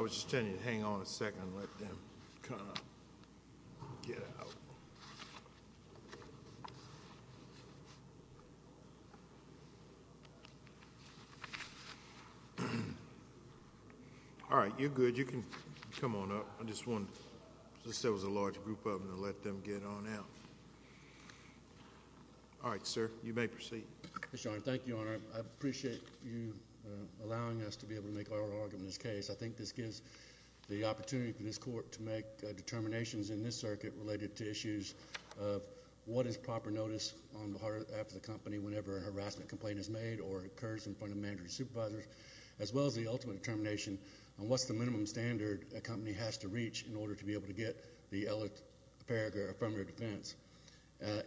I was just telling you to hang on a second and let them kind of get out. All right, you're good, you can come on up. I just wanted to say it was a large group of them to let them get on out. All right, sir, you may proceed. Thank you, Your Honor. I appreciate you allowing us to be able to make our argument in this case. I think this gives the opportunity for this court to make determinations in this circuit related to issues of what is proper notice on behalf of the company whenever a harassment complaint is made or occurs in front of managers and supervisors, as well as the ultimate determination on what's the minimum standard a company has to reach in order to be able to get the ELA paragraph affirmative defense.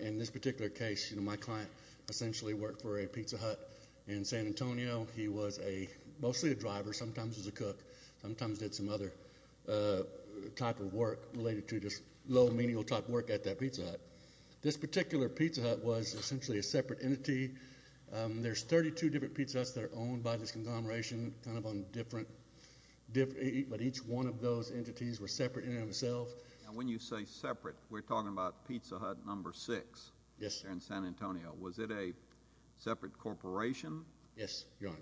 In this particular case, my client essentially worked for a pizza hut in San Antonio. He was mostly a driver, sometimes was a cook, sometimes did some other type of work related to just low, menial type work at that pizza hut. This particular pizza hut was essentially a separate entity. There's 32 different pizza huts that are owned by this conglomeration, but each one of those entities were separate in and of themselves. Now, when you say separate, we're talking about pizza hut number six in San Antonio. Was it a separate corporation? Yes, Your Honor.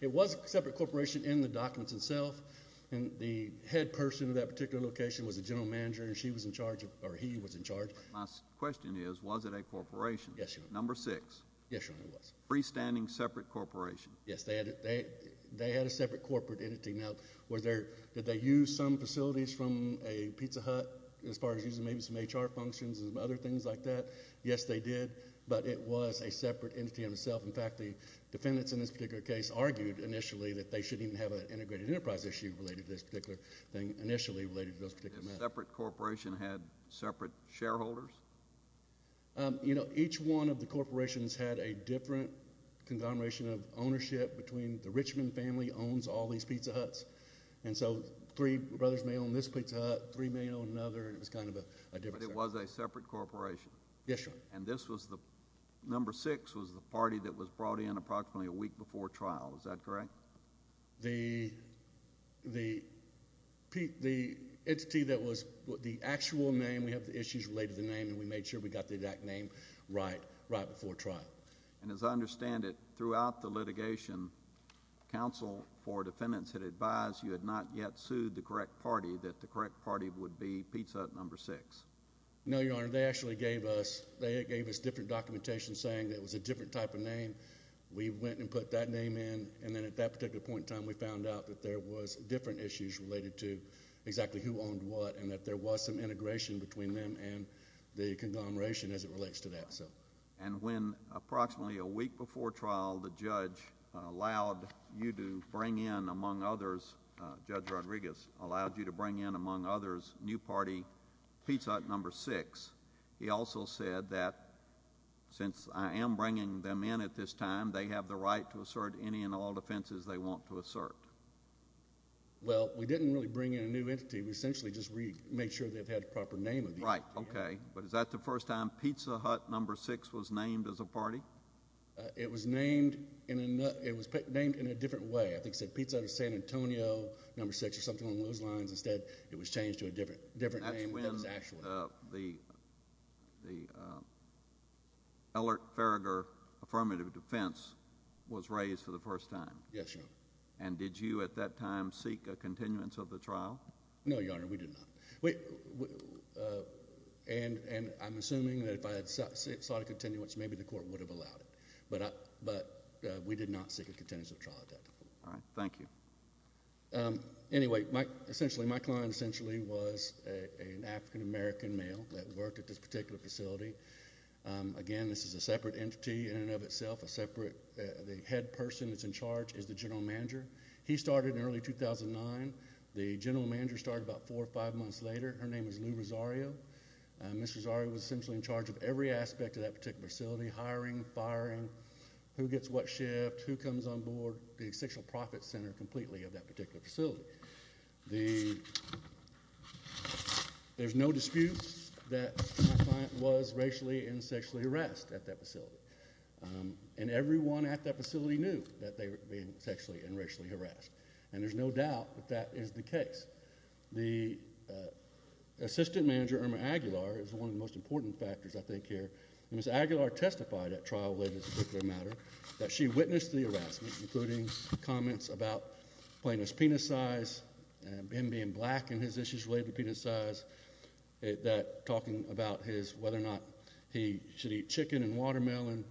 It was a separate corporation in the documents itself, and the head person of that particular location was the general manager, and he was in charge. My question is, was it a corporation? Yes, Your Honor. Number six. Yes, Your Honor, it was. Freestanding separate corporation. Yes, they had a separate corporate entity. Now, did they use some facilities from a pizza hut as far as using maybe some HR functions and other things like that? Yes, they did, but it was a separate entity in and of itself. In fact, the defendants in this particular case argued initially that they shouldn't even have an integrated enterprise issue related to this particular thing initially related to this particular matter. Did a separate corporation have separate shareholders? You know, each one of the corporations had a different conglomeration of ownership between the Richmond family owns all these pizza huts, and so three brothers may own this pizza hut, three may own another, and it was kind of a different. But it was a separate corporation? Yes, Your Honor. And this was the number six was the party that was brought in approximately a week before trial. Is that correct? The entity that was the actual name, we have the issues related to the name, and we made sure we got the exact name right before trial. And as I understand it, throughout the litigation, counsel for defendants had advised you had not yet sued the correct party that the correct party would be pizza hut number six. No, Your Honor. They actually gave us different documentation saying it was a different type of name. We went and put that name in, and then at that particular point in time, we found out that there was different issues related to exactly who owned what and that there was some integration between them and the conglomeration as it relates to that. And when approximately a week before trial, the judge allowed you to bring in, among others, Judge Rodriguez allowed you to bring in, among others, new party pizza hut number six, he also said that since I am bringing them in at this time, they have the right to assert any and all defenses they want to assert. Well, we didn't really bring in a new entity. We essentially just made sure they had the proper name of the entity. Right, okay. But is that the first time pizza hut number six was named as a party? It was named in a different way. I think it said pizza hut San Antonio number six or something along those lines. Instead, it was changed to a different name than it was actually. And the Ellert-Faragher affirmative defense was raised for the first time. Yes, Your Honor. And did you at that time seek a continuance of the trial? No, Your Honor, we did not. And I'm assuming that if I had sought a continuance, maybe the court would have allowed it. But we did not seek a continuance of the trial. All right. Thank you. Anyway, my client essentially was an African-American male that worked at this particular facility. Again, this is a separate entity in and of itself. The head person that's in charge is the general manager. He started in early 2009. The general manager started about four or five months later. Her name is Lou Rosario. Ms. Rosario was essentially in charge of every aspect of that particular facility, hiring, firing, who gets what shift, who comes on board, the sexual profit center completely of that particular facility. There's no disputes that my client was racially and sexually harassed at that facility. And everyone at that facility knew that they were being sexually and racially harassed. And there's no doubt that that is the case. The assistant manager, Irma Aguilar, is one of the most important factors, I think, here. Ms. Aguilar testified at trial related to this particular matter that she witnessed the harassment, including comments about plaintiff's penis size, him being black in his issues related to penis size, that talking about whether or not he should eat chicken and watermelon,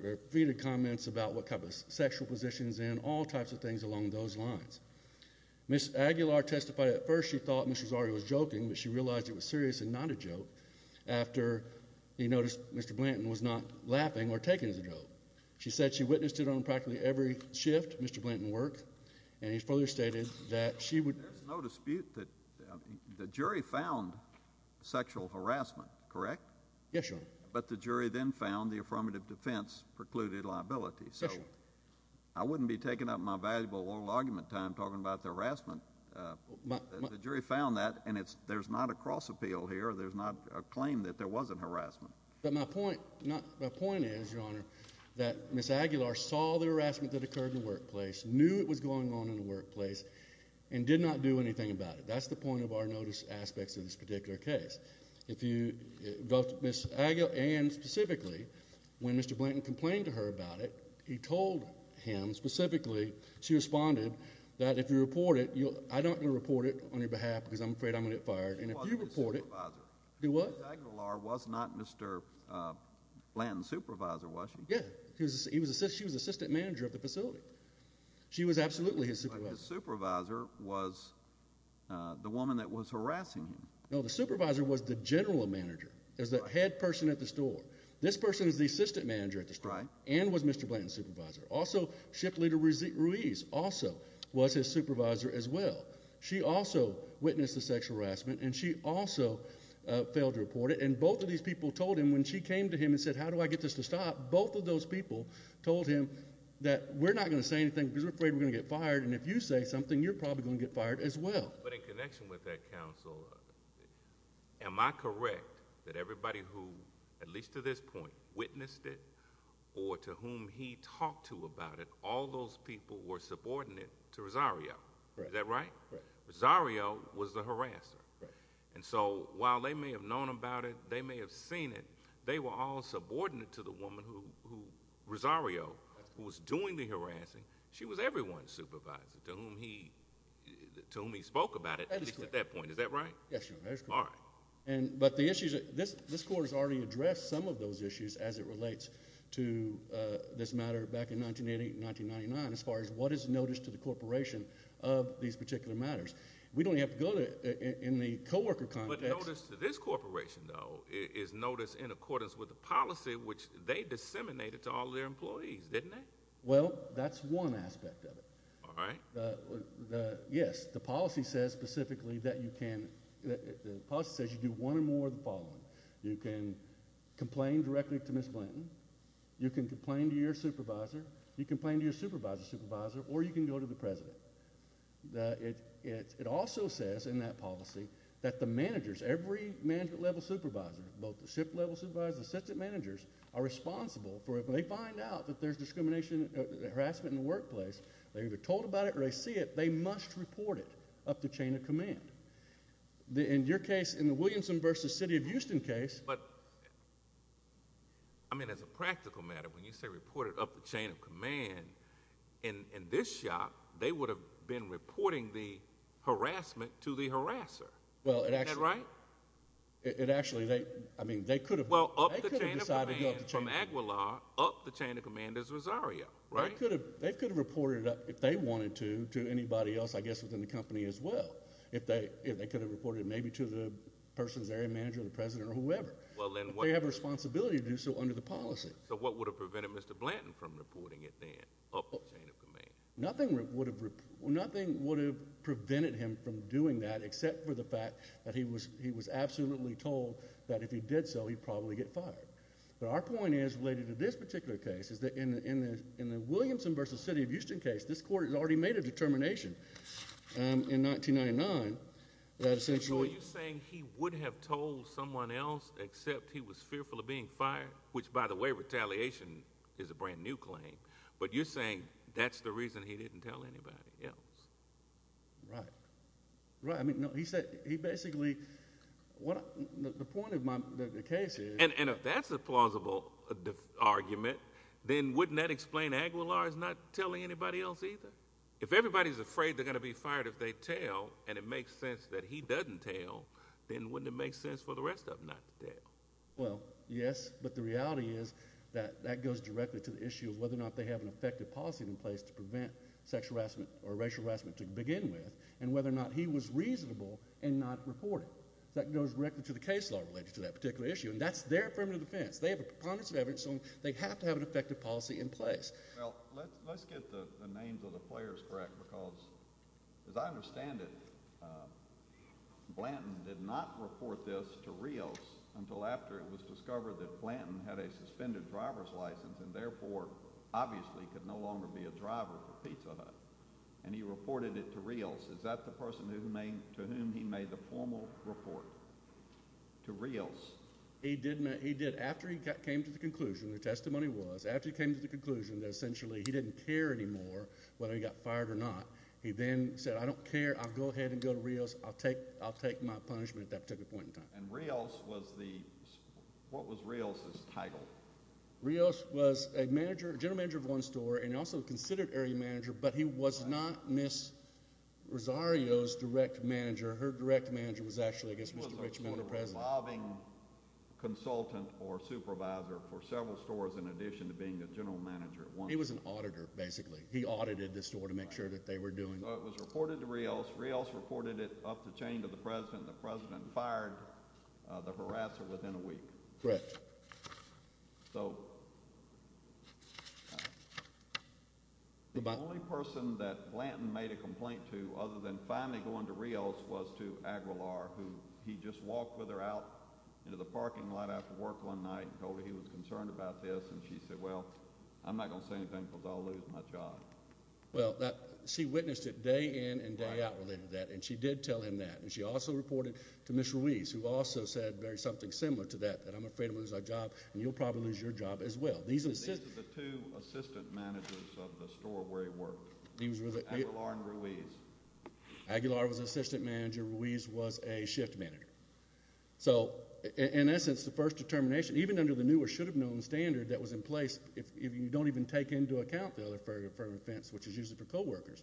repeated comments about what type of sexual position he's in, all types of things along those lines. Ms. Aguilar testified at first she thought Ms. Rosario was joking, but she realized it was seriously not a joke after he noticed Mr. Blanton was not laughing or taking as a joke. She said she witnessed it on practically every shift Mr. Blanton worked, and he further stated that she would— There's no dispute that the jury found sexual harassment, correct? Yes, Your Honor. But the jury then found the affirmative defense precluded liability. Yes, Your Honor. So I wouldn't be taking up my valuable oral argument time talking about the harassment. The jury found that, and there's not a cross-appeal here. There's not a claim that there wasn't harassment. But my point is, Your Honor, that Ms. Aguilar saw the harassment that occurred in the workplace, knew it was going on in the workplace, and did not do anything about it. That's the point of our notice aspects of this particular case. If you—both Ms. Aguilar and specifically when Mr. Blanton complained to her about it, he told him specifically, she responded, that if you report it, I'm not going to report it on your behalf because I'm afraid I'm going to get fired, and if you report it— She wasn't the supervisor. She was. Ms. Aguilar was not Mr. Blanton's supervisor, was she? Yes, she was assistant manager of the facility. She was absolutely his supervisor. But the supervisor was the woman that was harassing him. No, the supervisor was the general manager, as the head person at the store. This person is the assistant manager at the store. And was Mr. Blanton's supervisor. Also, ship leader Ruiz also was his supervisor as well. She also witnessed the sexual harassment, and she also failed to report it. And both of these people told him when she came to him and said, how do I get this to stop, both of those people told him that we're not going to say anything because we're afraid we're going to get fired, and if you say something, you're probably going to get fired as well. But in connection with that, counsel, am I correct that everybody who, at least to this point, witnessed it or to whom he talked to about it, all those people were subordinate to Rosario. Is that right? Right. Rosario was the harasser. Right. And so while they may have known about it, they may have seen it, they were all subordinate to the woman who, Rosario, who was doing the harassing. She was everyone's supervisor to whom he spoke about it, at least at that point. That is correct. Is that right? That is correct. All right. But the issue is this court has already addressed some of those issues as it relates to this matter back in 1988 and 1999 as far as what is notice to the corporation of these particular matters. We don't have to go to it in the coworker context. But notice to this corporation, though, is notice in accordance with the policy which they disseminated to all their employees, didn't they? Well, that's one aspect of it. All right. Yes, the policy says specifically that you can do one or more of the following. You can complain directly to Ms. Blanton. You can complain to your supervisor. You can complain to your supervisor's supervisor. Or you can go to the president. It also says in that policy that the managers, every management-level supervisor, both the shift-level supervisors, the assistant managers are responsible for if they find out that there's discrimination, harassment in the workplace, they were told about it or they see it, they must report it up the chain of command. In your case, in the Williamson v. City of Houston case. But, I mean, as a practical matter, when you say report it up the chain of command, in this shop, they would have been reporting the harassment to the harasser. Isn't that right? It actually, I mean, they could have. Well, up the chain of command from Aguilar up the chain of command is Rosario, right? They could have reported it up, if they wanted to, to anybody else, I guess, within the company as well. If they could have reported it maybe to the person's area manager or the president or whoever. They have a responsibility to do so under the policy. So what would have prevented Mr. Blanton from reporting it then up the chain of command? Nothing would have prevented him from doing that except for the fact that he was absolutely told that if he did so, he'd probably get fired. But our point is, related to this particular case, is that in the Williamson v. City of Houston case, this court had already made a determination in 1999 that essentially... So are you saying he would have told someone else except he was fearful of being fired? Which, by the way, retaliation is a brand-new claim. But you're saying that's the reason he didn't tell anybody else. Right. Right. I mean, no, he basically... the point of the case is... And if that's a plausible argument, then wouldn't that explain Aguilar's not telling anybody else either? If everybody's afraid they're going to be fired if they tell, and it makes sense that he doesn't tell, then wouldn't it make sense for the rest of them not to tell? Well, yes, but the reality is that that goes directly to the issue of whether or not they have an effective policy in place to prevent sexual harassment or racial harassment to begin with, and whether or not he was reasonable in not reporting. That goes directly to the case law related to that particular issue, and that's their affirmative defense. They have a preponderance of evidence, so they have to have an effective policy in place. Well, let's get the names of the players correct because, as I understand it, Blanton did not report this to Rios until after it was discovered that Blanton had a suspended driver's license and therefore obviously could no longer be a driver for Pizza Hut, and he reported it to Rios. Is that the person to whom he made the formal report, to Rios? He did. After he came to the conclusion, the testimony was, after he came to the conclusion that essentially he didn't care anymore whether he got fired or not, he then said, I don't care. I'll go ahead and go to Rios. I'll take my punishment at that particular point in time. And Rios was the—what was Rios's title? Rios was a manager, general manager of one store, and also considered area manager, but he was not Ms. Rosario's direct manager. Her direct manager was actually, I guess, Mr. Richmond, the president. He was a sort of revolving consultant or supervisor for several stores in addition to being the general manager at one store. He was an auditor, basically. He audited the store to make sure that they were doing— So it was reported to Rios. Rios reported it up the chain to the president. The president fired the harasser within a week. Correct. So the only person that Blanton made a complaint to other than finally going to Rios was to Aguilar, who he just walked with her out into the parking lot after work one night and told her he was concerned about this, and she said, well, I'm not going to say anything because I'll lose my job. Well, she witnessed it day in and day out related to that, and she did tell him that. And she also reported to Ms. Ruiz, who also said something similar to that, that I'm afraid I'm going to lose my job and you'll probably lose your job as well. These are the two assistant managers of the store where he worked, Aguilar and Ruiz. Aguilar was an assistant manager. Ruiz was a shift manager. So in essence, the first determination, even under the new or should have known standard that was in place, if you don't even take into account the other further offense, which is usually for coworkers,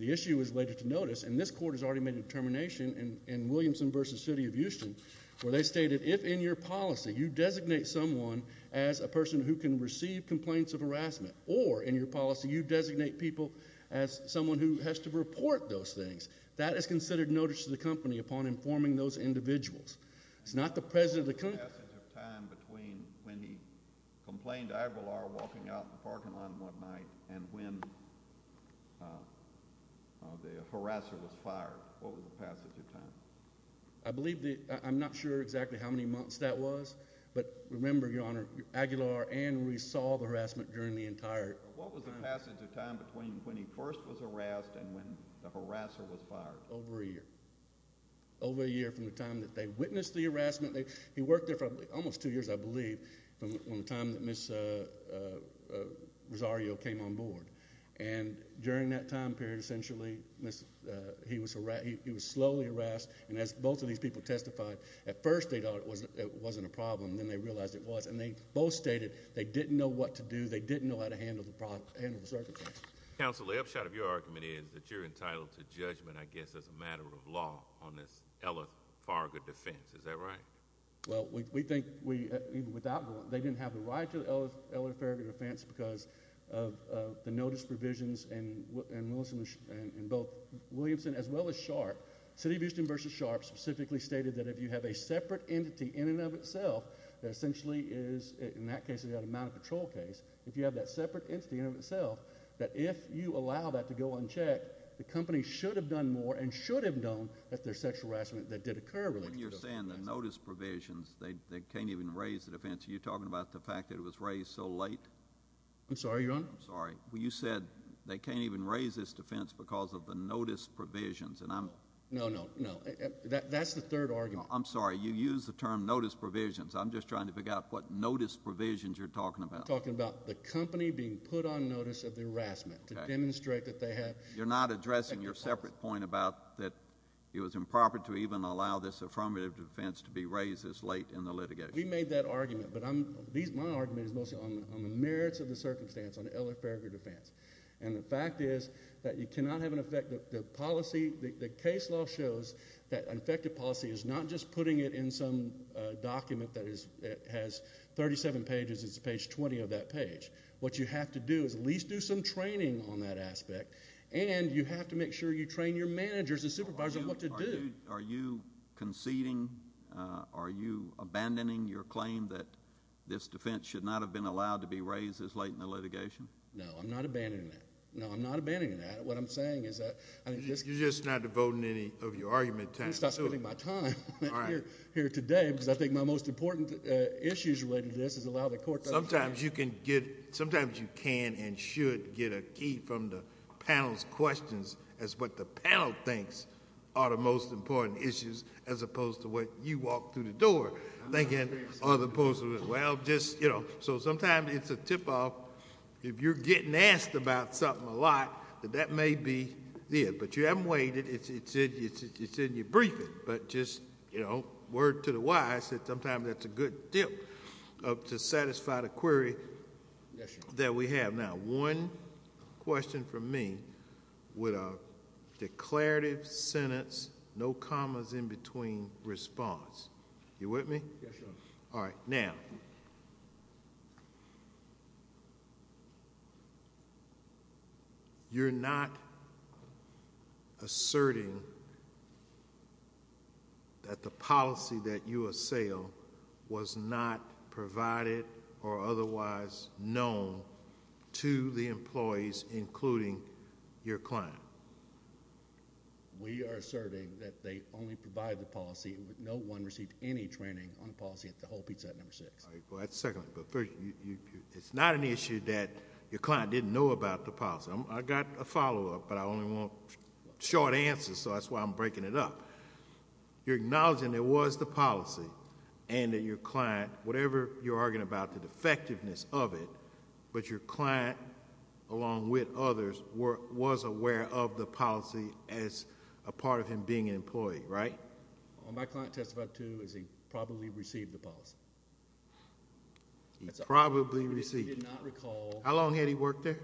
the issue is later to notice, and this court has already made a determination in Williamson v. City of Houston where they stated if in your policy you designate someone as a person who can receive complaints of harassment or in your policy you designate people as someone who has to report those things, that is considered notice to the company upon informing those individuals. What was the passage of time between when he complained to Aguilar walking out in the parking lot one night and when the harasser was fired? What was the passage of time? I'm not sure exactly how many months that was, but remember, Your Honor, Aguilar and Ruiz saw the harassment during the entire time. What was the passage of time between when he first was harassed and when the harasser was fired? Not over a year. Over a year from the time that they witnessed the harassment. He worked there for almost two years, I believe, from the time that Ms. Rosario came on board, and during that time period, essentially, he was slowly harassed, and as both of these people testified, at first they thought it wasn't a problem. Then they realized it was, and they both stated they didn't know what to do. They didn't know how to handle the circumstances. Counsel, the upshot of your argument is that you're entitled to judgment, I guess, as a matter of law on this Ella Farga defense. Is that right? Well, we think even without the warrant, they didn't have a right to the Ella Farga defense because of the notice provisions in both Williamson as well as Sharp. City of Houston v. Sharp specifically stated that if you have a separate entity in and of itself that essentially is, in that case, a mounted patrol case, if you have that separate entity in and of itself, that if you allow that to go unchecked, the company should have done more and should have known that there's sexual harassment that did occur. When you're saying the notice provisions, they can't even raise the defense. Are you talking about the fact that it was raised so late? I'm sorry, Your Honor? I'm sorry. You said they can't even raise this defense because of the notice provisions, and I'm... No, no, no. That's the third argument. I'm sorry. You used the term notice provisions. I'm just trying to figure out what notice provisions you're talking about. I'm talking about the company being put on notice of the harassment to demonstrate that they have... You're not addressing your separate point about that it was improper to even allow this affirmative defense to be raised this late in the litigation. We made that argument, but my argument is mostly on the merits of the circumstance on the Ella Farga defense. And the fact is that you cannot have an effective policy. The case law shows that an effective policy is not just putting it in some document that has 37 pages. It's page 20 of that page. What you have to do is at least do some training on that aspect, and you have to make sure you train your managers and supervisors on what to do. Are you conceding? Are you abandoning your claim that this defense should not have been allowed to be raised this late in the litigation? No, I'm not abandoning that. No, I'm not abandoning that. What I'm saying is that... You're just not devoting any of your argument time to it. I'm not spending my time here today because I think my most important issues related to this is allow the court... Sometimes you can get... sometimes you can and should get a key from the panel's questions as what the panel thinks are the most important issues as opposed to what you walk through the door thinking... I'm not...... as opposed to, well, just, you know... So sometimes it's a tip-off. If you're getting asked about something a lot, that that may be it. But you haven't waited. It's in your briefing. But just, you know, word to the wise that sometimes that's a good tip to satisfy the query...... that we have. Now one question from me with a declarative sentence, no commas in between response. You with me? Yes, Your Honor. All right. Now... You're not asserting that the policy that you assail was not provided or otherwise known to the employees including your client. We are asserting that they only provide the policy. No one received any training on policy at the whole pizza at number six. All right. Well, that's second. But first, it's not an issue that your client didn't know about the policy. I've got a follow-up, but I only want short answers. So, that's why I'm breaking it up. You're acknowledging there was the policy and that your client, whatever you're arguing about the defectiveness of it...... but your client, along with others, was aware of the policy as a part of him being an employee, right? My client testified, too, as he probably received the policy. He probably received it. He did not recall. How long had he worked there?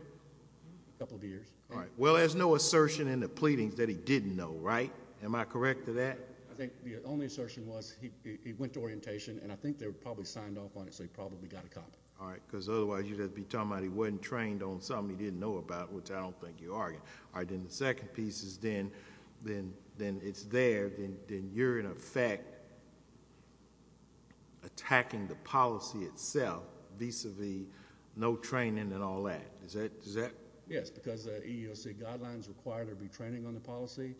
A couple of years. All right. Well, there's no assertion in the pleadings that he didn't know, right? Am I correct to that? I think the only assertion was he went to orientation and I think they were probably signed off on it, so he probably got a copy. All right. Because, otherwise, you'd just be talking about he wasn't trained on something he didn't know about, which I don't think you are. All right. Then, the second piece is then, it's there. Then, you're in effect attacking the policy itself, vis-a-vis no training and all that. Is that... Yes, because the EEOC guidelines require there to be training on the policy.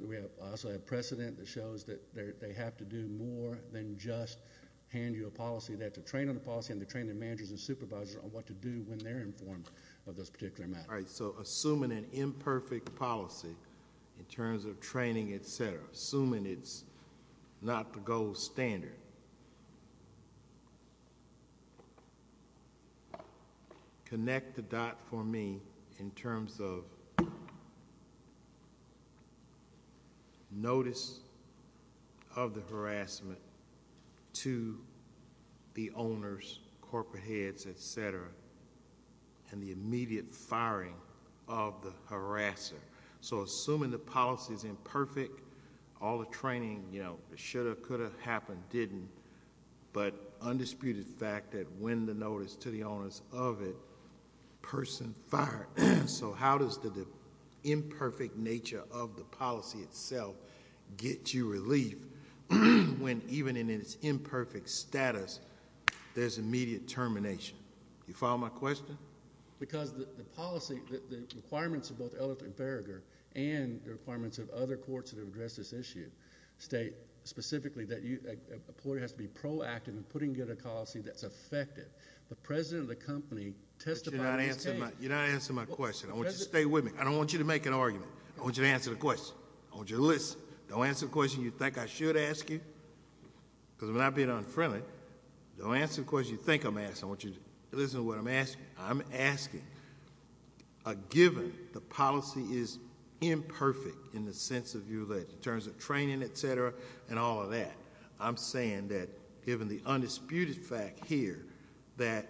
We also have precedent that shows that they have to do more than just hand you a policy. They have to train on the policy and they train their managers and supervisors on what to do when they're informed of this particular matter. All right. So, assuming an imperfect policy in terms of training, et cetera, assuming it's not the gold standard, connect the dot for me in terms of notice of the harassment to the owners, corporate heads, et cetera, and the immediate firing of the harasser. So, assuming the policy is imperfect, all the training, you know, it should have, could have happened, didn't, but undisputed fact that when the notice to the owners of it, person fired. So, how does the imperfect nature of the policy itself get you relief when even in its imperfect status, there's immediate termination? Do you follow my question? Why? Because the policy, the requirements of both Ellicott and Farragher and the requirements of other courts that have addressed this issue state specifically that a ploy has to be proactive in putting together a policy that's effective. The president of the company testified... But you're not answering my question. I want you to stay with me. I don't want you to make an argument. I want you to answer the question. I want you to listen. Don't answer the question you think I should ask you because I'm not being unfriendly. Don't answer the question you think I'm asking. Yes, I want you to listen to what I'm asking. I'm asking a given the policy is imperfect in the sense of your, in terms of training, et cetera, and all of that. I'm saying that given the undisputed fact here that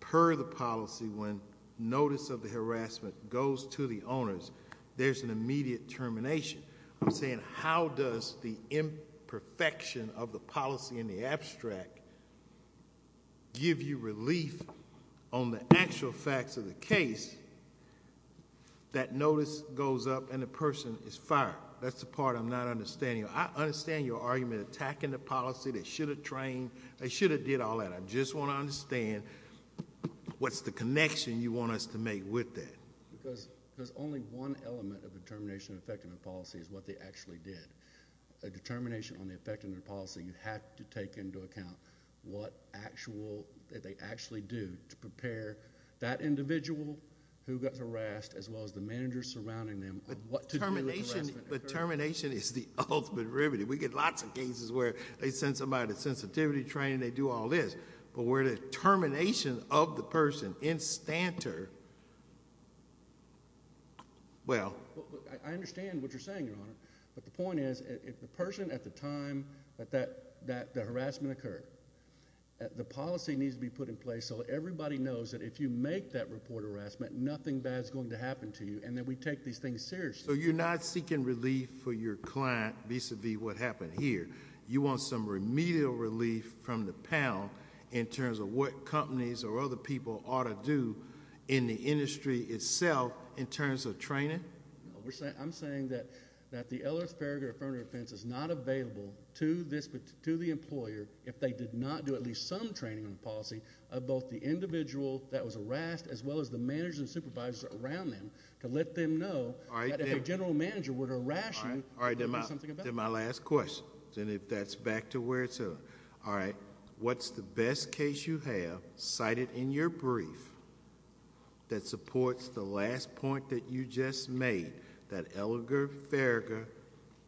per the policy when notice of the harassment goes to the owners, there's an immediate termination. I'm saying how does the imperfection of the policy in the abstract give you relief on the actual facts of the case that notice goes up and the person is fired? That's the part I'm not understanding. I understand your argument attacking the policy. They should have trained. They should have did all that. I just want to understand what's the connection you want us to make with that. There's only one element of the termination effect in the policy is what they actually did. A determination on the effect in the policy, you have to take into account what they actually do to prepare that individual who got harassed as well as the manager surrounding them. Termination is the ultimate remedy. We get lots of cases where they send somebody to sensitivity training. They do all this. But where the termination of the person in stanter, well. I understand what you're saying, Your Honor. But the point is if the person at the time that the harassment occurred, the policy needs to be put in place so everybody knows that if you make that report of harassment, nothing bad is going to happen to you and that we take these things seriously. So you're not seeking relief for your client vis-a-vis what happened here. You want some remedial relief from the panel in terms of what companies or other people ought to do in the industry itself in terms of training? No. I'm saying that the Ellis-Faragher affirmative defense is not available to the employer if they did not do at least some training on the policy of both the individual that was harassed as well as the managers and supervisors around them to let them know that if a general manager were to harass you. All right. Then my last question. And if that's back to where it's at. All right. What's the best case you have cited in your brief that supports the last point that you just made that Ellis-Faragher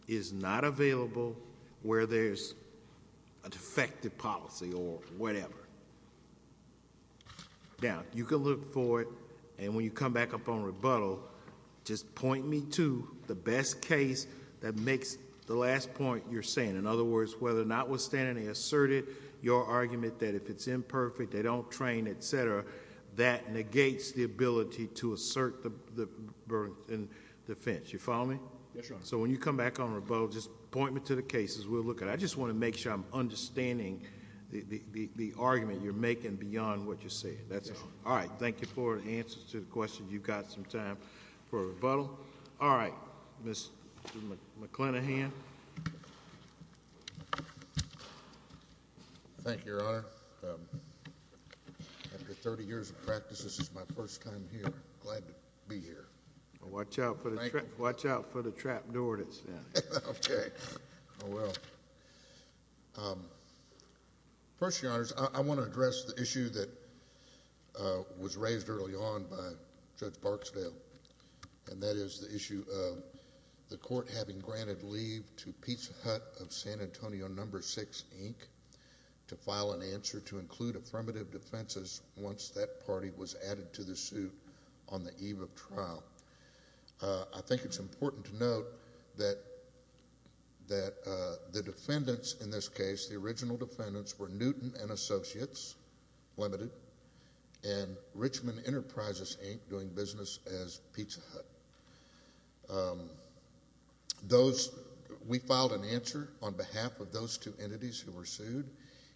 is not available where there's a defective policy or whatever? Now, you can look for it and when you come back up on rebuttal, just point me to the best case that makes the last point you're saying. In other words, whether or not withstanding they asserted your argument that if it's imperfect, they don't train, etc., that negates the ability to assert the defense. You follow me? Yes, Your Honor. So when you come back on rebuttal, just point me to the cases we'll look at. I just want to make sure I'm understanding the argument you're making beyond what you're saying. That's all. All right. Thank you for the answers to the questions. You've got some time for rebuttal. All right. Mr. McClenaghan. Thank you, Your Honor. After 30 years of practice, this is my first time here. I'm glad to be here. Watch out for the trap door that's there. Okay. Oh, well. First, Your Honors, I want to address the issue that was raised early on by Judge Barksdale, and that is the issue of the court having granted leave to Pete Hutt of San Antonio No. 6, Inc., to file an answer to include affirmative defenses once that party was added to the suit on the eve of trial. I think it's important to note that the defendants in this case, the original defendants, were Newton and Associates Limited and Richmond Enterprises, Inc., doing business as Pete's Hutt. We filed an answer on behalf of those two entities who were sued.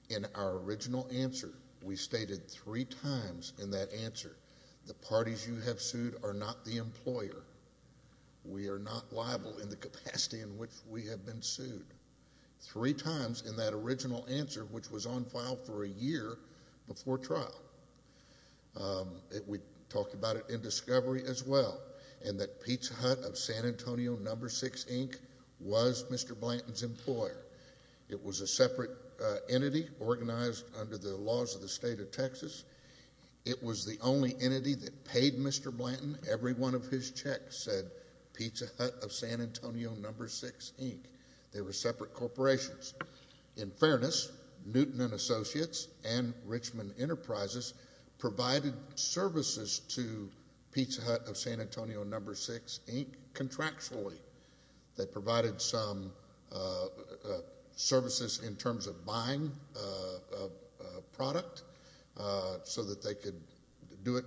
In our original answer, we stated three times in that answer, the parties you have sued are not the employer. We are not liable in the capacity in which we have been sued. Three times in that original answer, which was on file for a year before trial. We talked about it in discovery as well, and that Pete's Hutt of San Antonio No. 6, Inc. was Mr. Blanton's employer. It was a separate entity organized under the laws of the state of Texas. It was the only entity that paid Mr. Blanton every one of his checks, said Pete's Hutt of San Antonio No. 6, Inc. They were separate corporations. In fairness, Newton and Associates and Richmond Enterprises provided services to Pete's Hutt of San Antonio No. 6, Inc. contractually. They provided some services in terms of buying a product so that they could do it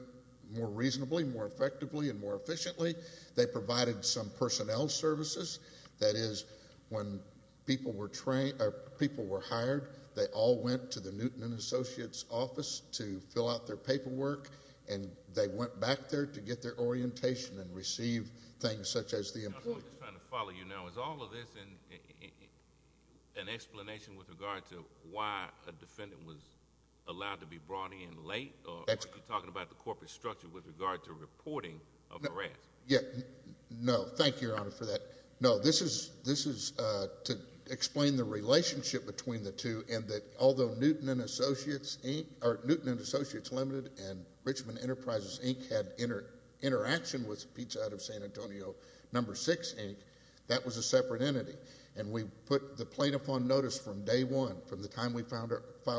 more reasonably, more effectively, and more efficiently. They provided some personnel services. That is, when people were hired, they all went to the Newton and Associates office to fill out their paperwork, and they went back there to get their orientation and receive things such as the employee. I'm just trying to follow you now. Is all of this an explanation with regard to why a defendant was allowed to be brought in late, or are you talking about the corporate structure with regard to reporting of harassment? No, thank you, Your Honor, for that. No, this is to explain the relationship between the two, and that although Newton and Associates Limited and Richmond Enterprises, Inc. had interaction with Pete's Hutt of San Antonio No. 6, Inc., that was a separate entity, and we put the plaintiff on notice from day one from the time we filed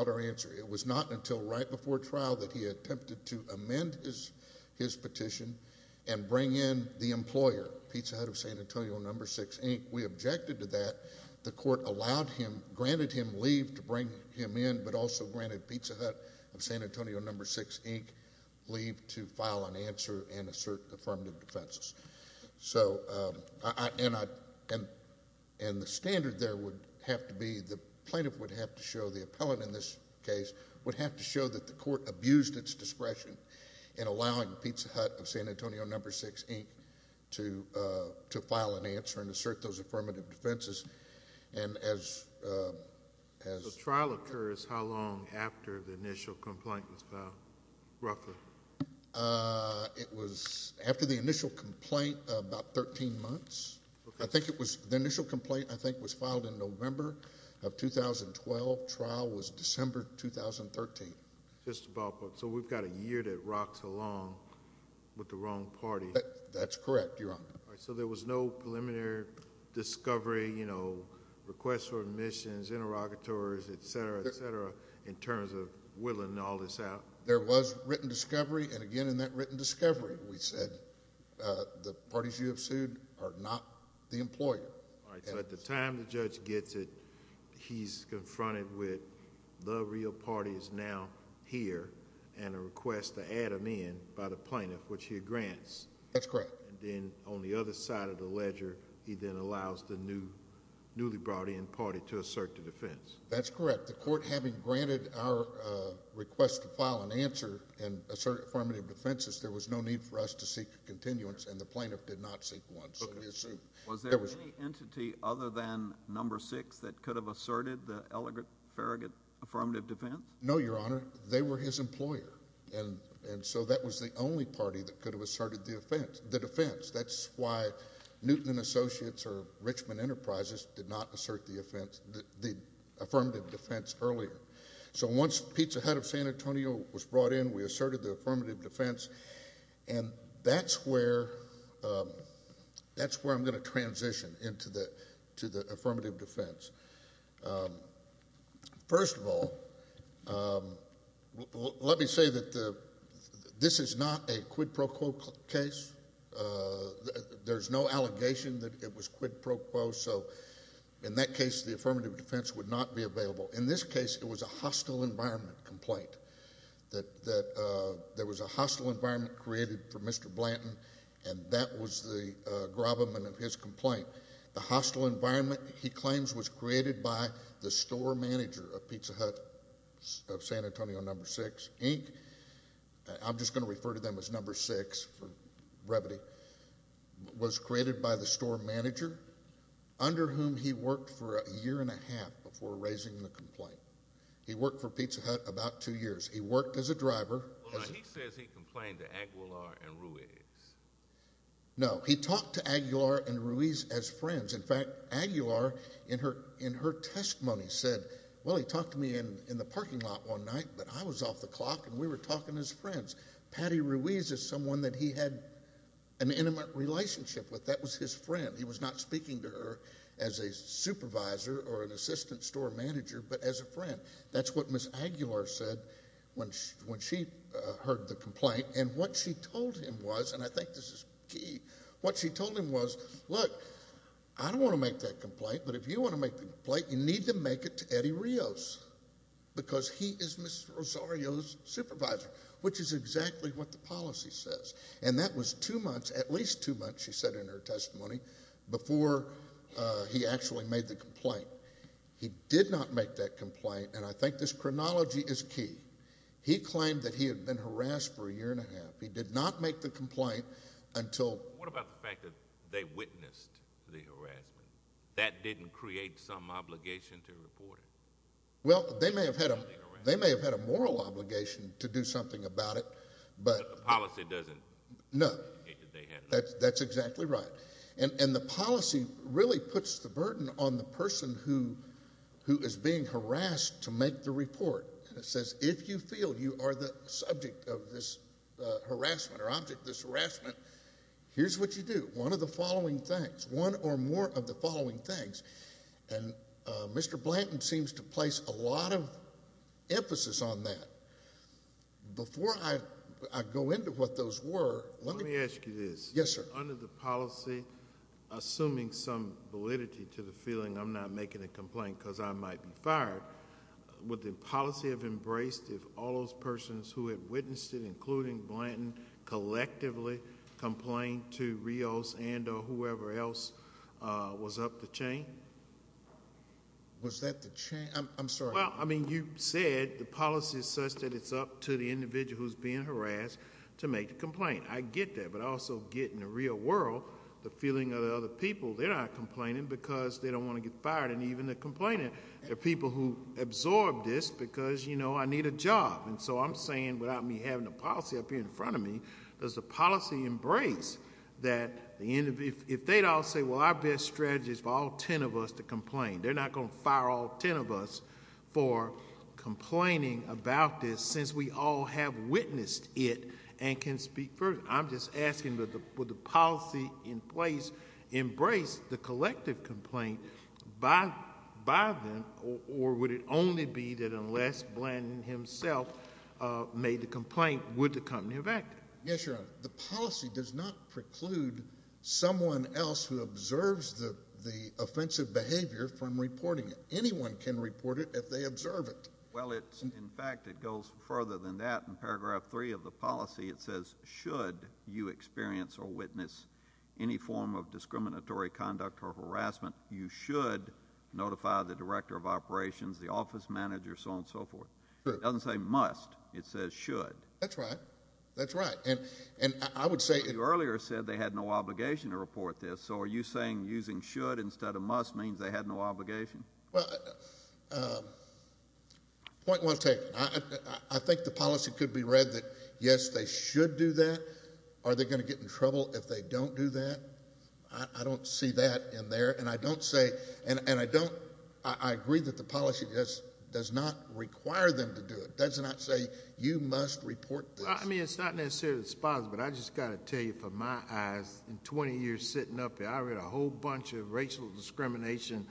our answer. It was not until right before trial that he attempted to amend his petition and bring in the employer, Pete's Hutt of San Antonio No. 6, Inc. We objected to that. The court allowed him, granted him leave to bring him in, but also granted Pete's Hutt of San Antonio No. 6, Inc. leave to file an answer and assert affirmative defenses. And the standard there would have to be, the plaintiff would have to show, the appellant in this case, would have to show that the court abused its discretion in allowing Pete's Hutt of San Antonio No. 6, Inc. to file an answer and assert those affirmative defenses. The trial occurs how long after the initial complaint was filed, roughly? It was after the initial complaint, about 13 months. The initial complaint, I think, was filed in November of 2012. The trial was December 2013. So we've got a year that rocks along with the wrong party. That's correct, Your Honor. So there was no preliminary discovery, requests for admissions, interrogatories, etc., etc., in terms of whittling all this out? There was written discovery, and again in that written discovery, we said, the parties you have sued are not the employer. All right. So at the time the judge gets it, he's confronted with the real party is now here, and a request to add him in by the plaintiff, which he grants. That's correct. Then on the other side of the ledger, he then allows the newly brought in party to assert the defense. That's correct. The court, having granted our request to file an answer and assert affirmative defenses, there was no need for us to seek a continuance, and the plaintiff did not seek one. Was there any entity other than number six that could have asserted the elegant, farragut affirmative defense? No, Your Honor. They were his employer, and so that was the only party that could have asserted the defense. That's why Newton & Associates or Richmond Enterprises did not assert the affirmative defense earlier. So once Pete's ahead of San Antonio was brought in, we asserted the affirmative defense, and that's where I'm going to transition into the affirmative defense. First of all, let me say that this is not a quid pro quo case. There's no allegation that it was quid pro quo, so in that case, the affirmative defense would not be available. In this case, it was a hostile environment complaint, that there was a hostile environment created for Mr. Blanton, and that was the gravamen of his complaint. The hostile environment, he claims, was created by the store manager of Pizza Hut of San Antonio, number six, Inc. I'm just going to refer to them as number six for brevity. It was created by the store manager, under whom he worked for a year and a half before raising the complaint. He worked for Pizza Hut about two years. He worked as a driver. Hold on. He says he complained to Aguilar and Ruiz. No. He talked to Aguilar and Ruiz as friends. In fact, Aguilar, in her testimony, said, well, he talked to me in the parking lot one night, but I was off the clock, and we were talking as friends. Patty Ruiz is someone that he had an intimate relationship with. That was his friend. He was not speaking to her as a supervisor or an assistant store manager, but as a friend. That's what Ms. Aguilar said when she heard the complaint, and what she told him was, and I think this is key, what she told him was, look, I don't want to make that complaint, but if you want to make the complaint, you need to make it to Eddie Rios, because he is Ms. Rosario's supervisor, which is exactly what the policy says, and that was two months, at least two months, she said in her testimony, before he actually made the complaint. He did not make that complaint, and I think this chronology is key. He claimed that he had been harassed for a year and a half. He did not make the complaint until... What about the fact that they witnessed the harassment? That didn't create some obligation to report it? Well, they may have had a moral obligation to do something about it, but... The policy doesn't... No, that's exactly right, and the policy really puts the burden on the person who is being harassed to make the report, and it says if you feel you are the subject of this harassment or object to this harassment, here's what you do. One of the following things, one or more of the following things, and Mr. Blanton seems to place a lot of emphasis on that. Before I go into what those were, let me... Let me ask you this. Yes, sir. Under the policy, assuming some validity to the feeling I'm not making a complaint because I might be fired, would the policy have embraced if all those persons who had witnessed it, including Blanton, collectively complained to Rios and or whoever else was up the chain? Was that the chain? I'm sorry. Well, I mean, you said the policy is such that it's up to the individual who's being harassed to make the complaint. I get that, but I also get, in the real world, the feeling of the other people. They're not complaining because they don't want to get fired, and even if they're complaining, they're people who absorb this because, you know, I need a job. And so I'm saying, without me having a policy up here in front of me, does the policy embrace that the end of... If they'd all say, well, our best strategy is for all ten of us to complain, they're not going to fire all ten of us for complaining about this since we all have witnessed it and can speak for... Or would it only be that unless Blanton himself made the complaint, would the company have acted? Yes, Your Honor. The policy does not preclude someone else who observes the offensive behavior from reporting it. Anyone can report it if they observe it. Well, in fact, it goes further than that. In Paragraph 3 of the policy, it says, should you experience or witness any form of discriminatory conduct or harassment, you should notify the director of operations, the office manager, so on and so forth. It doesn't say must. It says should. That's right. That's right. And I would say... You earlier said they had no obligation to report this. So are you saying using should instead of must means they had no obligation? Well, point was taken. I think the policy could be read that, yes, they should do that. Are they going to get in trouble if they don't do that? I don't see that in there. And I don't say... And I don't... I agree that the policy does not require them to do it. It does not say you must report this. I mean, it's not necessarily sponsored, but I've just got to tell you from my eyes, in 20 years sitting up here, I read a whole bunch of racial discrimination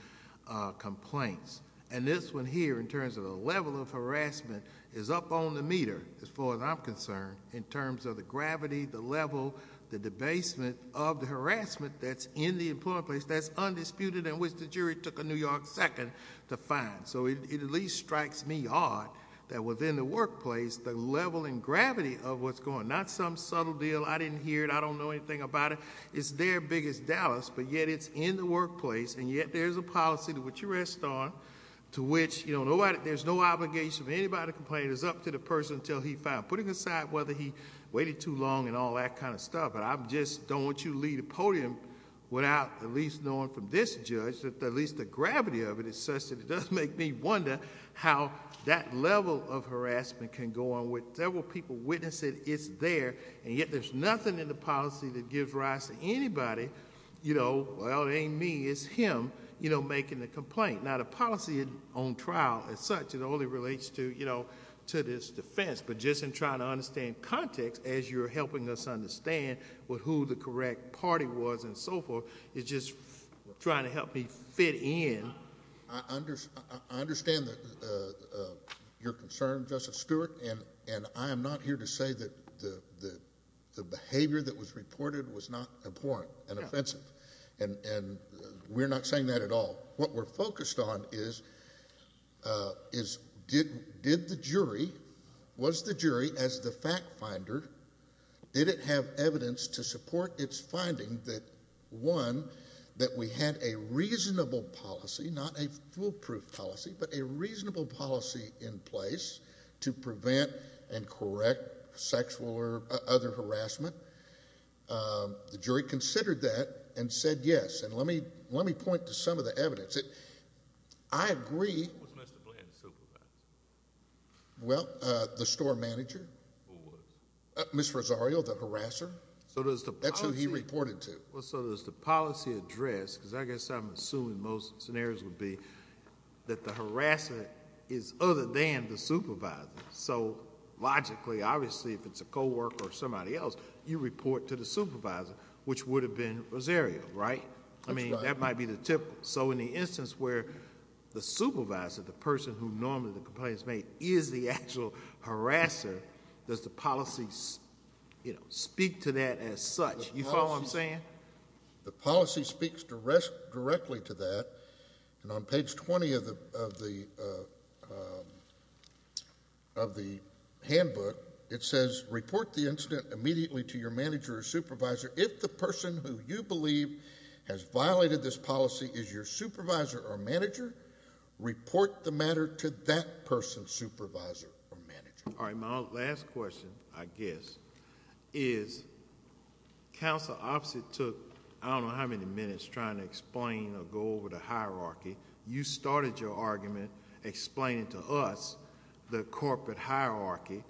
complaints. And this one here, in terms of the level of harassment, is up on the meter, as far as I'm concerned, in terms of the gravity, the level, the debasement of the harassment that's in the employment place, that's undisputed, and which the jury took a New York second to find. So it at least strikes me hard that within the workplace, the level and gravity of what's going on, not some subtle deal, I didn't hear it, I don't know anything about it. It's their biggest Dallas, but yet it's in the workplace, and yet there's a policy to which you rest on, to which there's no obligation for anybody to complain. It's up to the person until he's found, putting aside whether he waited too long and all that kind of stuff. But I just don't want you to leave the podium without at least knowing from this judge, that at least the gravity of it is such that it does make me wonder how that level of harassment can go on. But several people witnessed it, it's there, and yet there's nothing in the policy that gives rise to anybody, you know, well, it ain't me, it's him, you know, making the complaint. Now the policy on trial, as such, it only relates to, you know, to this defense. But just in trying to understand context, as you're helping us understand who the correct party was and so forth, it's just trying to help me fit in. I understand your concern, Justice Stewart, and I am not here to say that the behavior that was reported was not abhorrent and offensive, and we're not saying that at all. What we're focused on is did the jury, was the jury, as the fact finder, did it have evidence to support its finding that, one, that we had a reasonable policy, not a foolproof policy, but a reasonable policy in place to prevent and correct sexual or other harassment? The jury considered that and said yes, and let me point to some of the evidence. I agree. Who was Mr. Bland's supervisor? Well, the store manager. Who was? Ms. Rosario, the harasser. That's who he reported to. Well, so does the policy address, because I guess I'm assuming most scenarios would be that the harasser is other than the supervisor. So logically, obviously, if it's a coworker or somebody else, you report to the supervisor, which would have been Rosario, right? I mean, that might be the typical. So in the instance where the supervisor, the person who normally the complaint is made, is the actual harasser, does the policy speak to that as such? You follow what I'm saying? The policy speaks directly to that, and on page 20 of the handbook, it says, report the incident immediately to your manager or supervisor. If the person who you believe has violated this policy is your supervisor or manager, report the matter to that person's supervisor or manager. All right, my last question, I guess, is counsel obviously took I don't know how many minutes trying to explain or go over the hierarchy. You started your argument explaining to us the corporate hierarchy.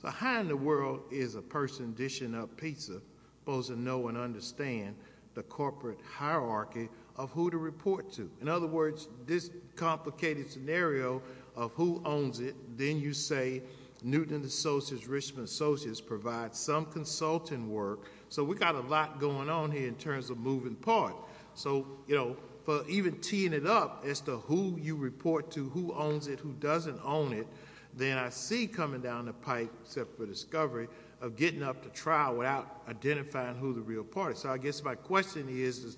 So how in the world is a person dishing up pizza supposed to know and understand the corporate hierarchy of who to report to? In other words, this complicated scenario of who owns it, then you say Newton Associates, Richmond Associates provide some consulting work. So we got a lot going on here in terms of moving parts. So, you know, for even teeing it up as to who you report to, who owns it, who doesn't own it, then I see coming down the pipe, except for discovery, of getting up to trial without identifying who the real party is. So I guess my question is,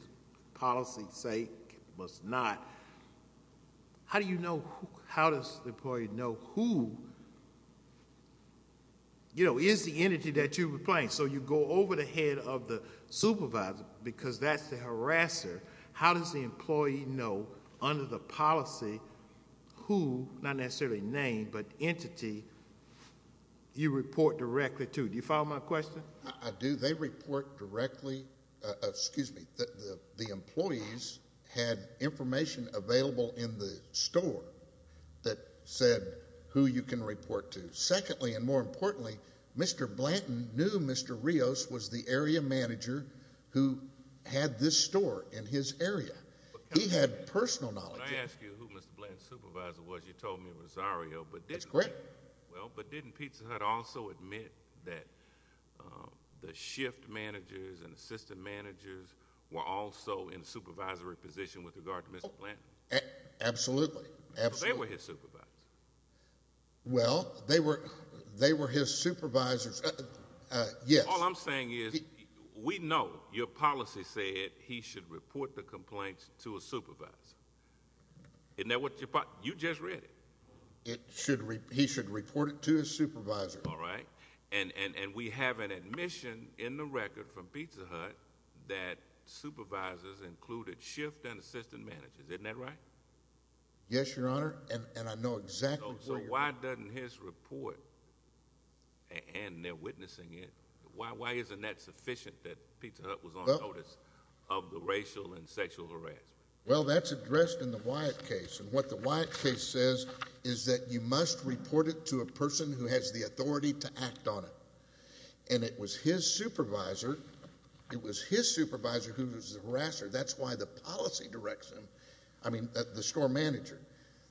policy say it must not. How do you know, how does the employee know who, you know, is the entity that you were playing? All right, so you go over the head of the supervisor because that's the harasser. How does the employee know under the policy who, not necessarily name, but entity, you report directly to? Do you follow my question? I do. They report directly, excuse me, the employees had information available in the store that said who you can report to. Secondly, and more importantly, Mr. Blanton knew Mr. Rios was the area manager who had this store in his area. He had personal knowledge. Can I ask you who Mr. Blanton's supervisor was? You told me Rosario, but didn't. That's correct. Well, but didn't Pizza Hut also admit that the shift managers and assistant managers were also in a supervisory position with regard to Mr. Blanton? Absolutely, absolutely. They were his supervisors. Well, they were his supervisors. Yes. All I'm saying is we know your policy said he should report the complaints to a supervisor. Isn't that what you thought? You just read it. He should report it to his supervisor. All right, and we have an admission in the record from Pizza Hut that supervisors included shift and assistant managers. Isn't that right? Yes, Your Honor, and I know exactly who. So why doesn't his report, and they're witnessing it, why isn't that sufficient that Pizza Hut was on notice of the racial and sexual harassment? Well, that's addressed in the Wyatt case, and what the Wyatt case says is that you must report it to a person who has the authority to act on it. And it was his supervisor. It was his supervisor who was the harasser. That's why the policy directs him. I mean, the store manager.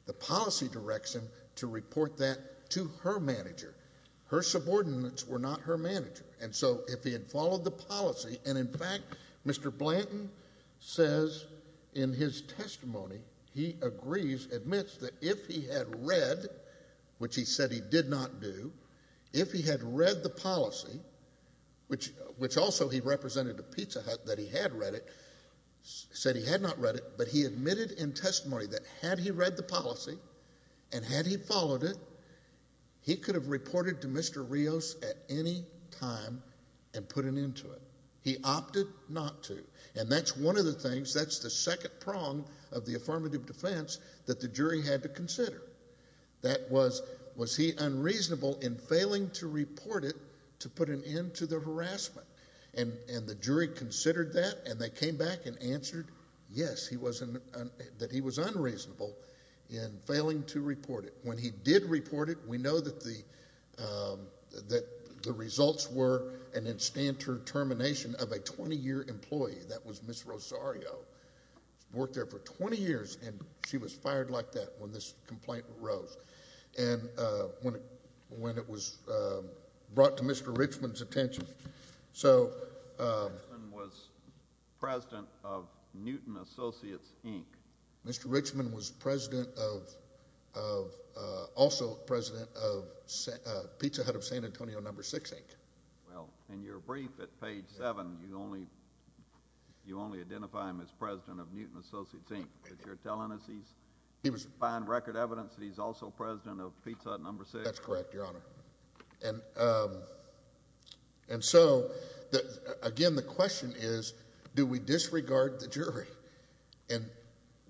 The policy directs him to report that to her manager. Her subordinates were not her manager, and so if he had followed the policy, and, in fact, Mr. Blanton says in his testimony he agrees, admits that if he had read, which he said he did not do, if he had read the policy, which also he represented to Pizza Hut that he had read it, said he had not read it, but he admitted in testimony that had he read the policy and had he followed it, he could have reported to Mr. Rios at any time and put an end to it. He opted not to, and that's one of the things, that's the second prong of the affirmative defense that the jury had to consider. That was, was he unreasonable in failing to report it to put an end to the harassment? And the jury considered that, and they came back and answered yes, that he was unreasonable in failing to report it. When he did report it, we know that the results were an instant termination of a 20-year employee. That was Ms. Rosario. She worked there for 20 years, and she was fired like that when this complaint arose. And when it was brought to Mr. Richman's attention. Mr. Richman was president of Newton Associates, Inc. Mr. Richman was president of, also president of Pizza Hut of San Antonio No. 6, Inc. Well, in your brief at page 7, you only identify him as president of Newton Associates, Inc., but you're telling us he's providing record evidence that he's also president of Pizza Hut No. 6? That's correct, Your Honor. And so, again, the question is, do we disregard the jury? And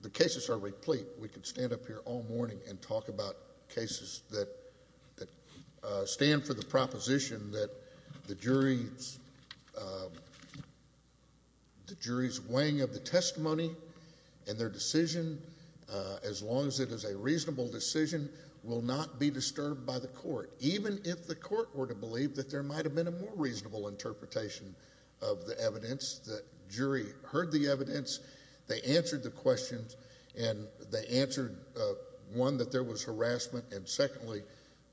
the cases are replete. We could stand up here all morning and talk about cases that stand for the proposition that the jury's weighing of the testimony and their decision, as long as it is a reasonable decision, will not be disturbed by the court. Even if the court were to believe that there might have been a more reasonable interpretation of the evidence, the jury heard the evidence, they answered the questions, and they answered, one, that there was harassment, and secondly,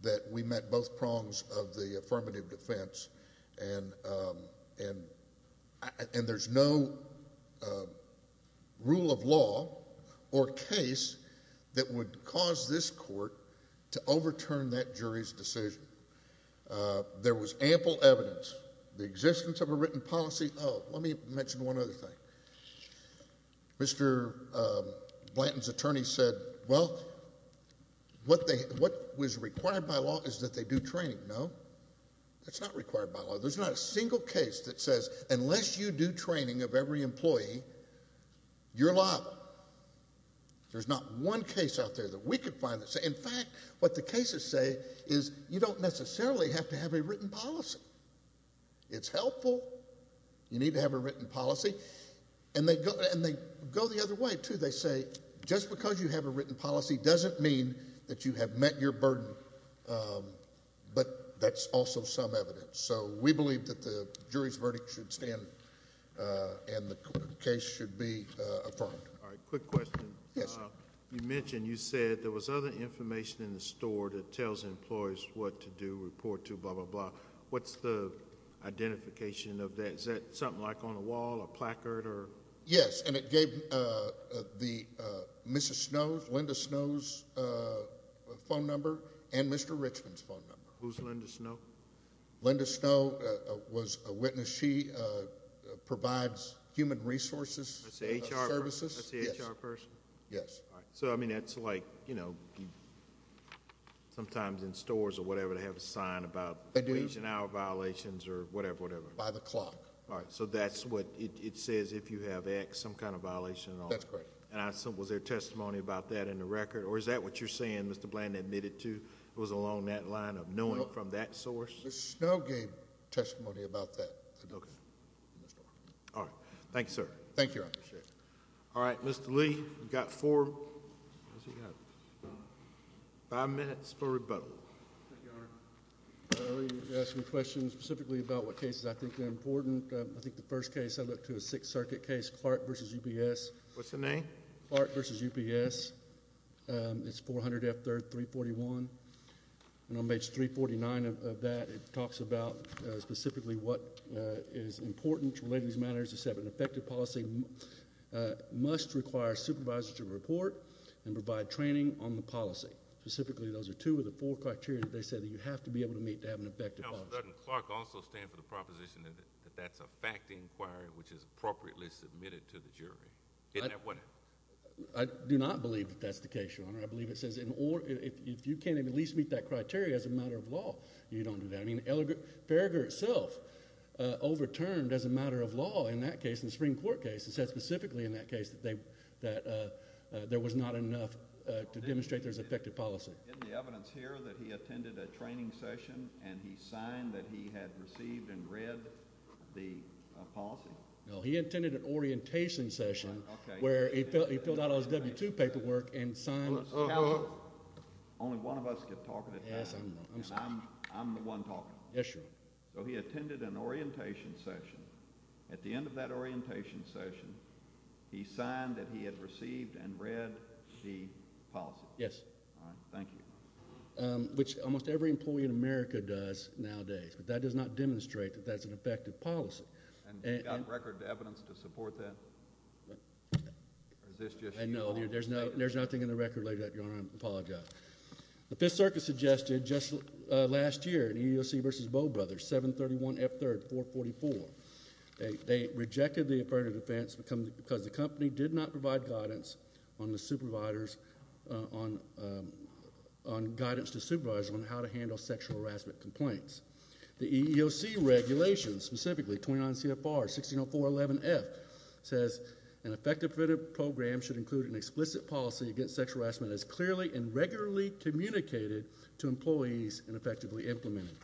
that we met both prongs of the affirmative defense, and there's no rule of law or case that would cause this court to overturn that jury's decision. There was ample evidence. The existence of a written policy, oh, let me mention one other thing. Mr. Blanton's attorney said, well, what was required by law is that they do training. No, that's not required by law. There's not a single case that says, unless you do training of every employee, you're liable. There's not one case out there that we could find that says, in fact, what the cases say is you don't necessarily have to have a written policy. It's helpful. You need to have a written policy. And they go the other way, too. They say, just because you have a written policy doesn't mean that you have met your burden, but that's also some evidence. So we believe that the jury's verdict should stand and the case should be affirmed. All right, quick question. Yes, sir. You mentioned you said there was other information in the store that tells employees what to do, report to, blah, blah, blah. What's the identification of that? Is that something like on a wall, a placard? Yes, and it gave Mrs. Snow, Linda Snow's phone number and Mr. Richmond's phone number. Who's Linda Snow? Linda Snow was a witness. She provides human resources services. That's the HR person? Yes. All right. So, I mean, that's like, you know, sometimes in stores or whatever, they have a sign about wage and hour violations or whatever, whatever. By the clock. All right, so that's what it says if you have X, some kind of violation and all that. That's correct. And was there testimony about that in the record? Or is that what you're saying, Mr. Blandon, admitted to? It was along that line of knowing from that source? Mrs. Snow gave testimony about that. Okay. All right. Thank you, sir. Thank you, Your Honor. All right. Mr. Lee, you've got five minutes for rebuttal. Thank you, Your Honor. You asked me a question specifically about what cases I think are important. I think the first case, I looked to a Sixth Circuit case, Clark v. UPS. What's the name? Clark v. UPS. It's 400 F. 3rd, 341. And on page 349 of that, it talks about specifically what is important relating to these matters. It says an effective policy must require supervisors to report and provide training on the policy. Specifically, those are two of the four criteria that they said that you have to be able to meet to have an effective policy. Now, doesn't Clark also stand for the proposition that that's a fact inquiry, which is appropriately submitted to the jury? Isn't that what it is? I do not believe that that's the case, Your Honor. I believe it says if you can't even at least meet that criteria as a matter of law, you don't do that. I mean, Farragher itself overturned as a matter of law in that case, in the Supreme Court case. It said specifically in that case that there was not enough to demonstrate there's an effective policy. Isn't the evidence here that he attended a training session and he signed that he had received and read the policy? No, he attended an orientation session where he filled out all his W-2 paperwork and signed. Only one of us can talk at a time, and I'm the one talking. Yes, Your Honor. So he attended an orientation session. At the end of that orientation session, he signed that he had received and read the policy. Yes. All right. Thank you. Which almost every employee in America does nowadays, but that does not demonstrate that that's an effective policy. And you've got record evidence to support that? Or is this just you all? No, there's nothing in the record, Your Honor. I apologize. The Fifth Circuit suggested just last year in EEOC v. Bowe Brothers, 731 F. 3rd, 444, they rejected the affirmative defense because the company did not provide guidance on the supervisors on guidance to supervisors on how to handle sexual harassment complaints. The EEOC regulations, specifically 29 CFR 160411 F, says an effective program should include an explicit policy against sexual harassment as clearly and regularly communicated to employees and effectively implemented.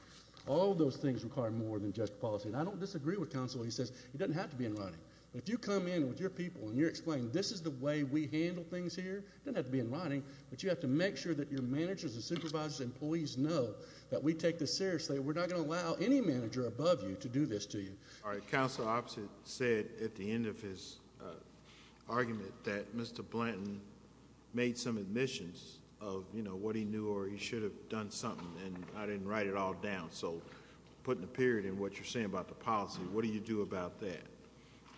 All those things require more than just policy. And I don't disagree with counsel when he says it doesn't have to be in writing. If you come in with your people and you're explaining this is the way we handle things here, it doesn't have to be in writing, but you have to make sure that your managers and supervisors and employees know that we take this seriously. We're not going to allow any manager above you to do this to you. All right. Counsel opposite said at the end of his argument that Mr. Blanton made some admissions of, you know, what he knew or he should have done something, and I didn't write it all down. So putting a period in what you're saying about the policy, what do you do about that?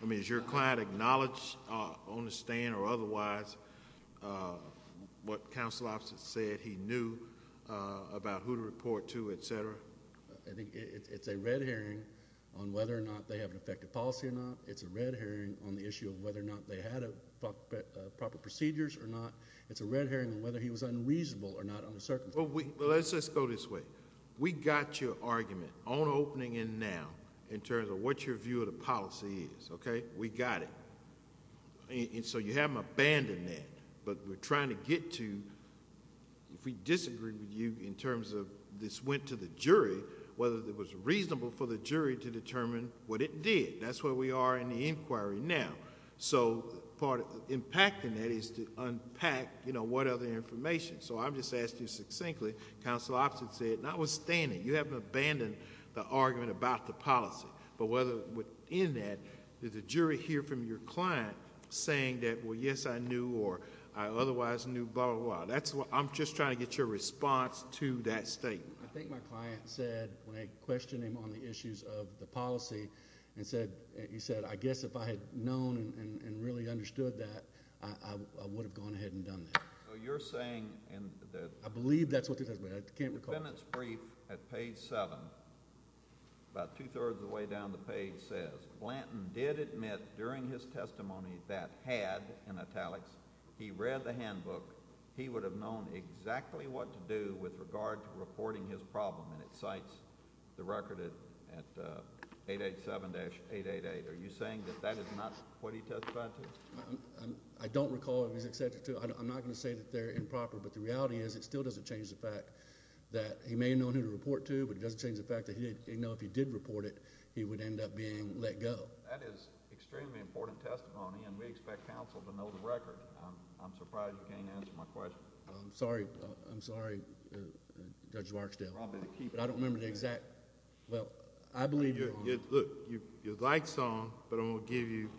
I mean, is your client acknowledged on the stand or otherwise what counsel opposite said he knew about who to report to, et cetera? I think it's a red herring on whether or not they have an effective policy or not. It's a red herring on the issue of whether or not they had proper procedures or not. It's a red herring on whether he was unreasonable or not on the circumstances. Well, let's just go this way. We got your argument on opening and now in terms of what your view of the policy is, okay? We got it. And so you haven't abandoned that, but we're trying to get to if we disagree with you in terms of this went to the jury, whether it was reasonable for the jury to determine what it did. That's where we are in the inquiry now. So part of impacting that is to unpack, you know, what other information. So I'm just asking you succinctly. Counsel opposite said notwithstanding, you haven't abandoned the argument about the policy, but whether within that did the jury hear from your client saying that, well, yes, I knew or I otherwise knew, blah, blah, blah. I'm just trying to get your response to that statement. I think my client said when I questioned him on the issues of the policy, he said, I guess if I had known and really understood that, I would have gone ahead and done that. So you're saying that. I believe that's what he said, but I can't recall. The sentence brief at page 7, about two-thirds of the way down the page, says, Blanton did admit during his testimony that had, in italics, he read the handbook, he would have known exactly what to do with regard to reporting his problem. And it cites the record at 887-888. Are you saying that that is not what he testified to? I don't recall if he's accepted to. I'm not going to say that they're improper, but the reality is it still doesn't change the fact that he may have known who to report to, but it doesn't change the fact that he didn't know if he did report it, he would end up being let go. That is extremely important testimony, and we expect counsel to know the record. I'm surprised you can't answer my question. I'm sorry, Judge Warksdale, but I don't remember the exact... Look, your light's on, but I'm going to give you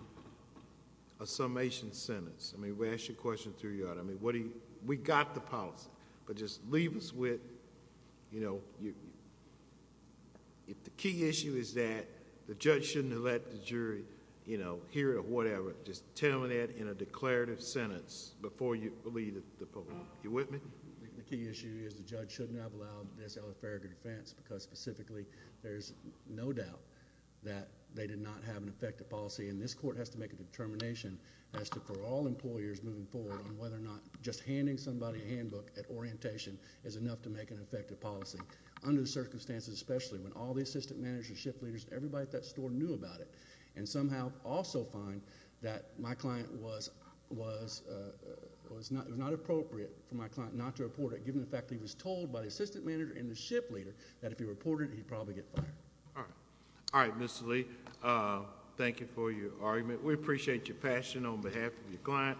a summation sentence. I mean, we asked you a question and threw you out. I mean, we got the policy, but just leave us with... If the key issue is that the judge shouldn't have let the jury hear it or whatever, just tell them that in a declarative sentence before you leave the program. Are you with me? The key issue is the judge shouldn't have allowed this elepharic offense because specifically there's no doubt that they did not have an effective policy, and this court has to make a determination for all employers moving forward on whether or not just handing somebody a handbook at orientation is enough to make an effective policy. Under the circumstances, especially when all the assistant managers, shift leaders, and everybody at that store knew about it, and somehow also find that it was not appropriate for my client not to report it, given the fact that he was told by the assistant manager and the shift leader that if he reported it, he'd probably get fired. All right. All right, Mr. Lee, thank you for your argument. We appreciate your passion on behalf of your client.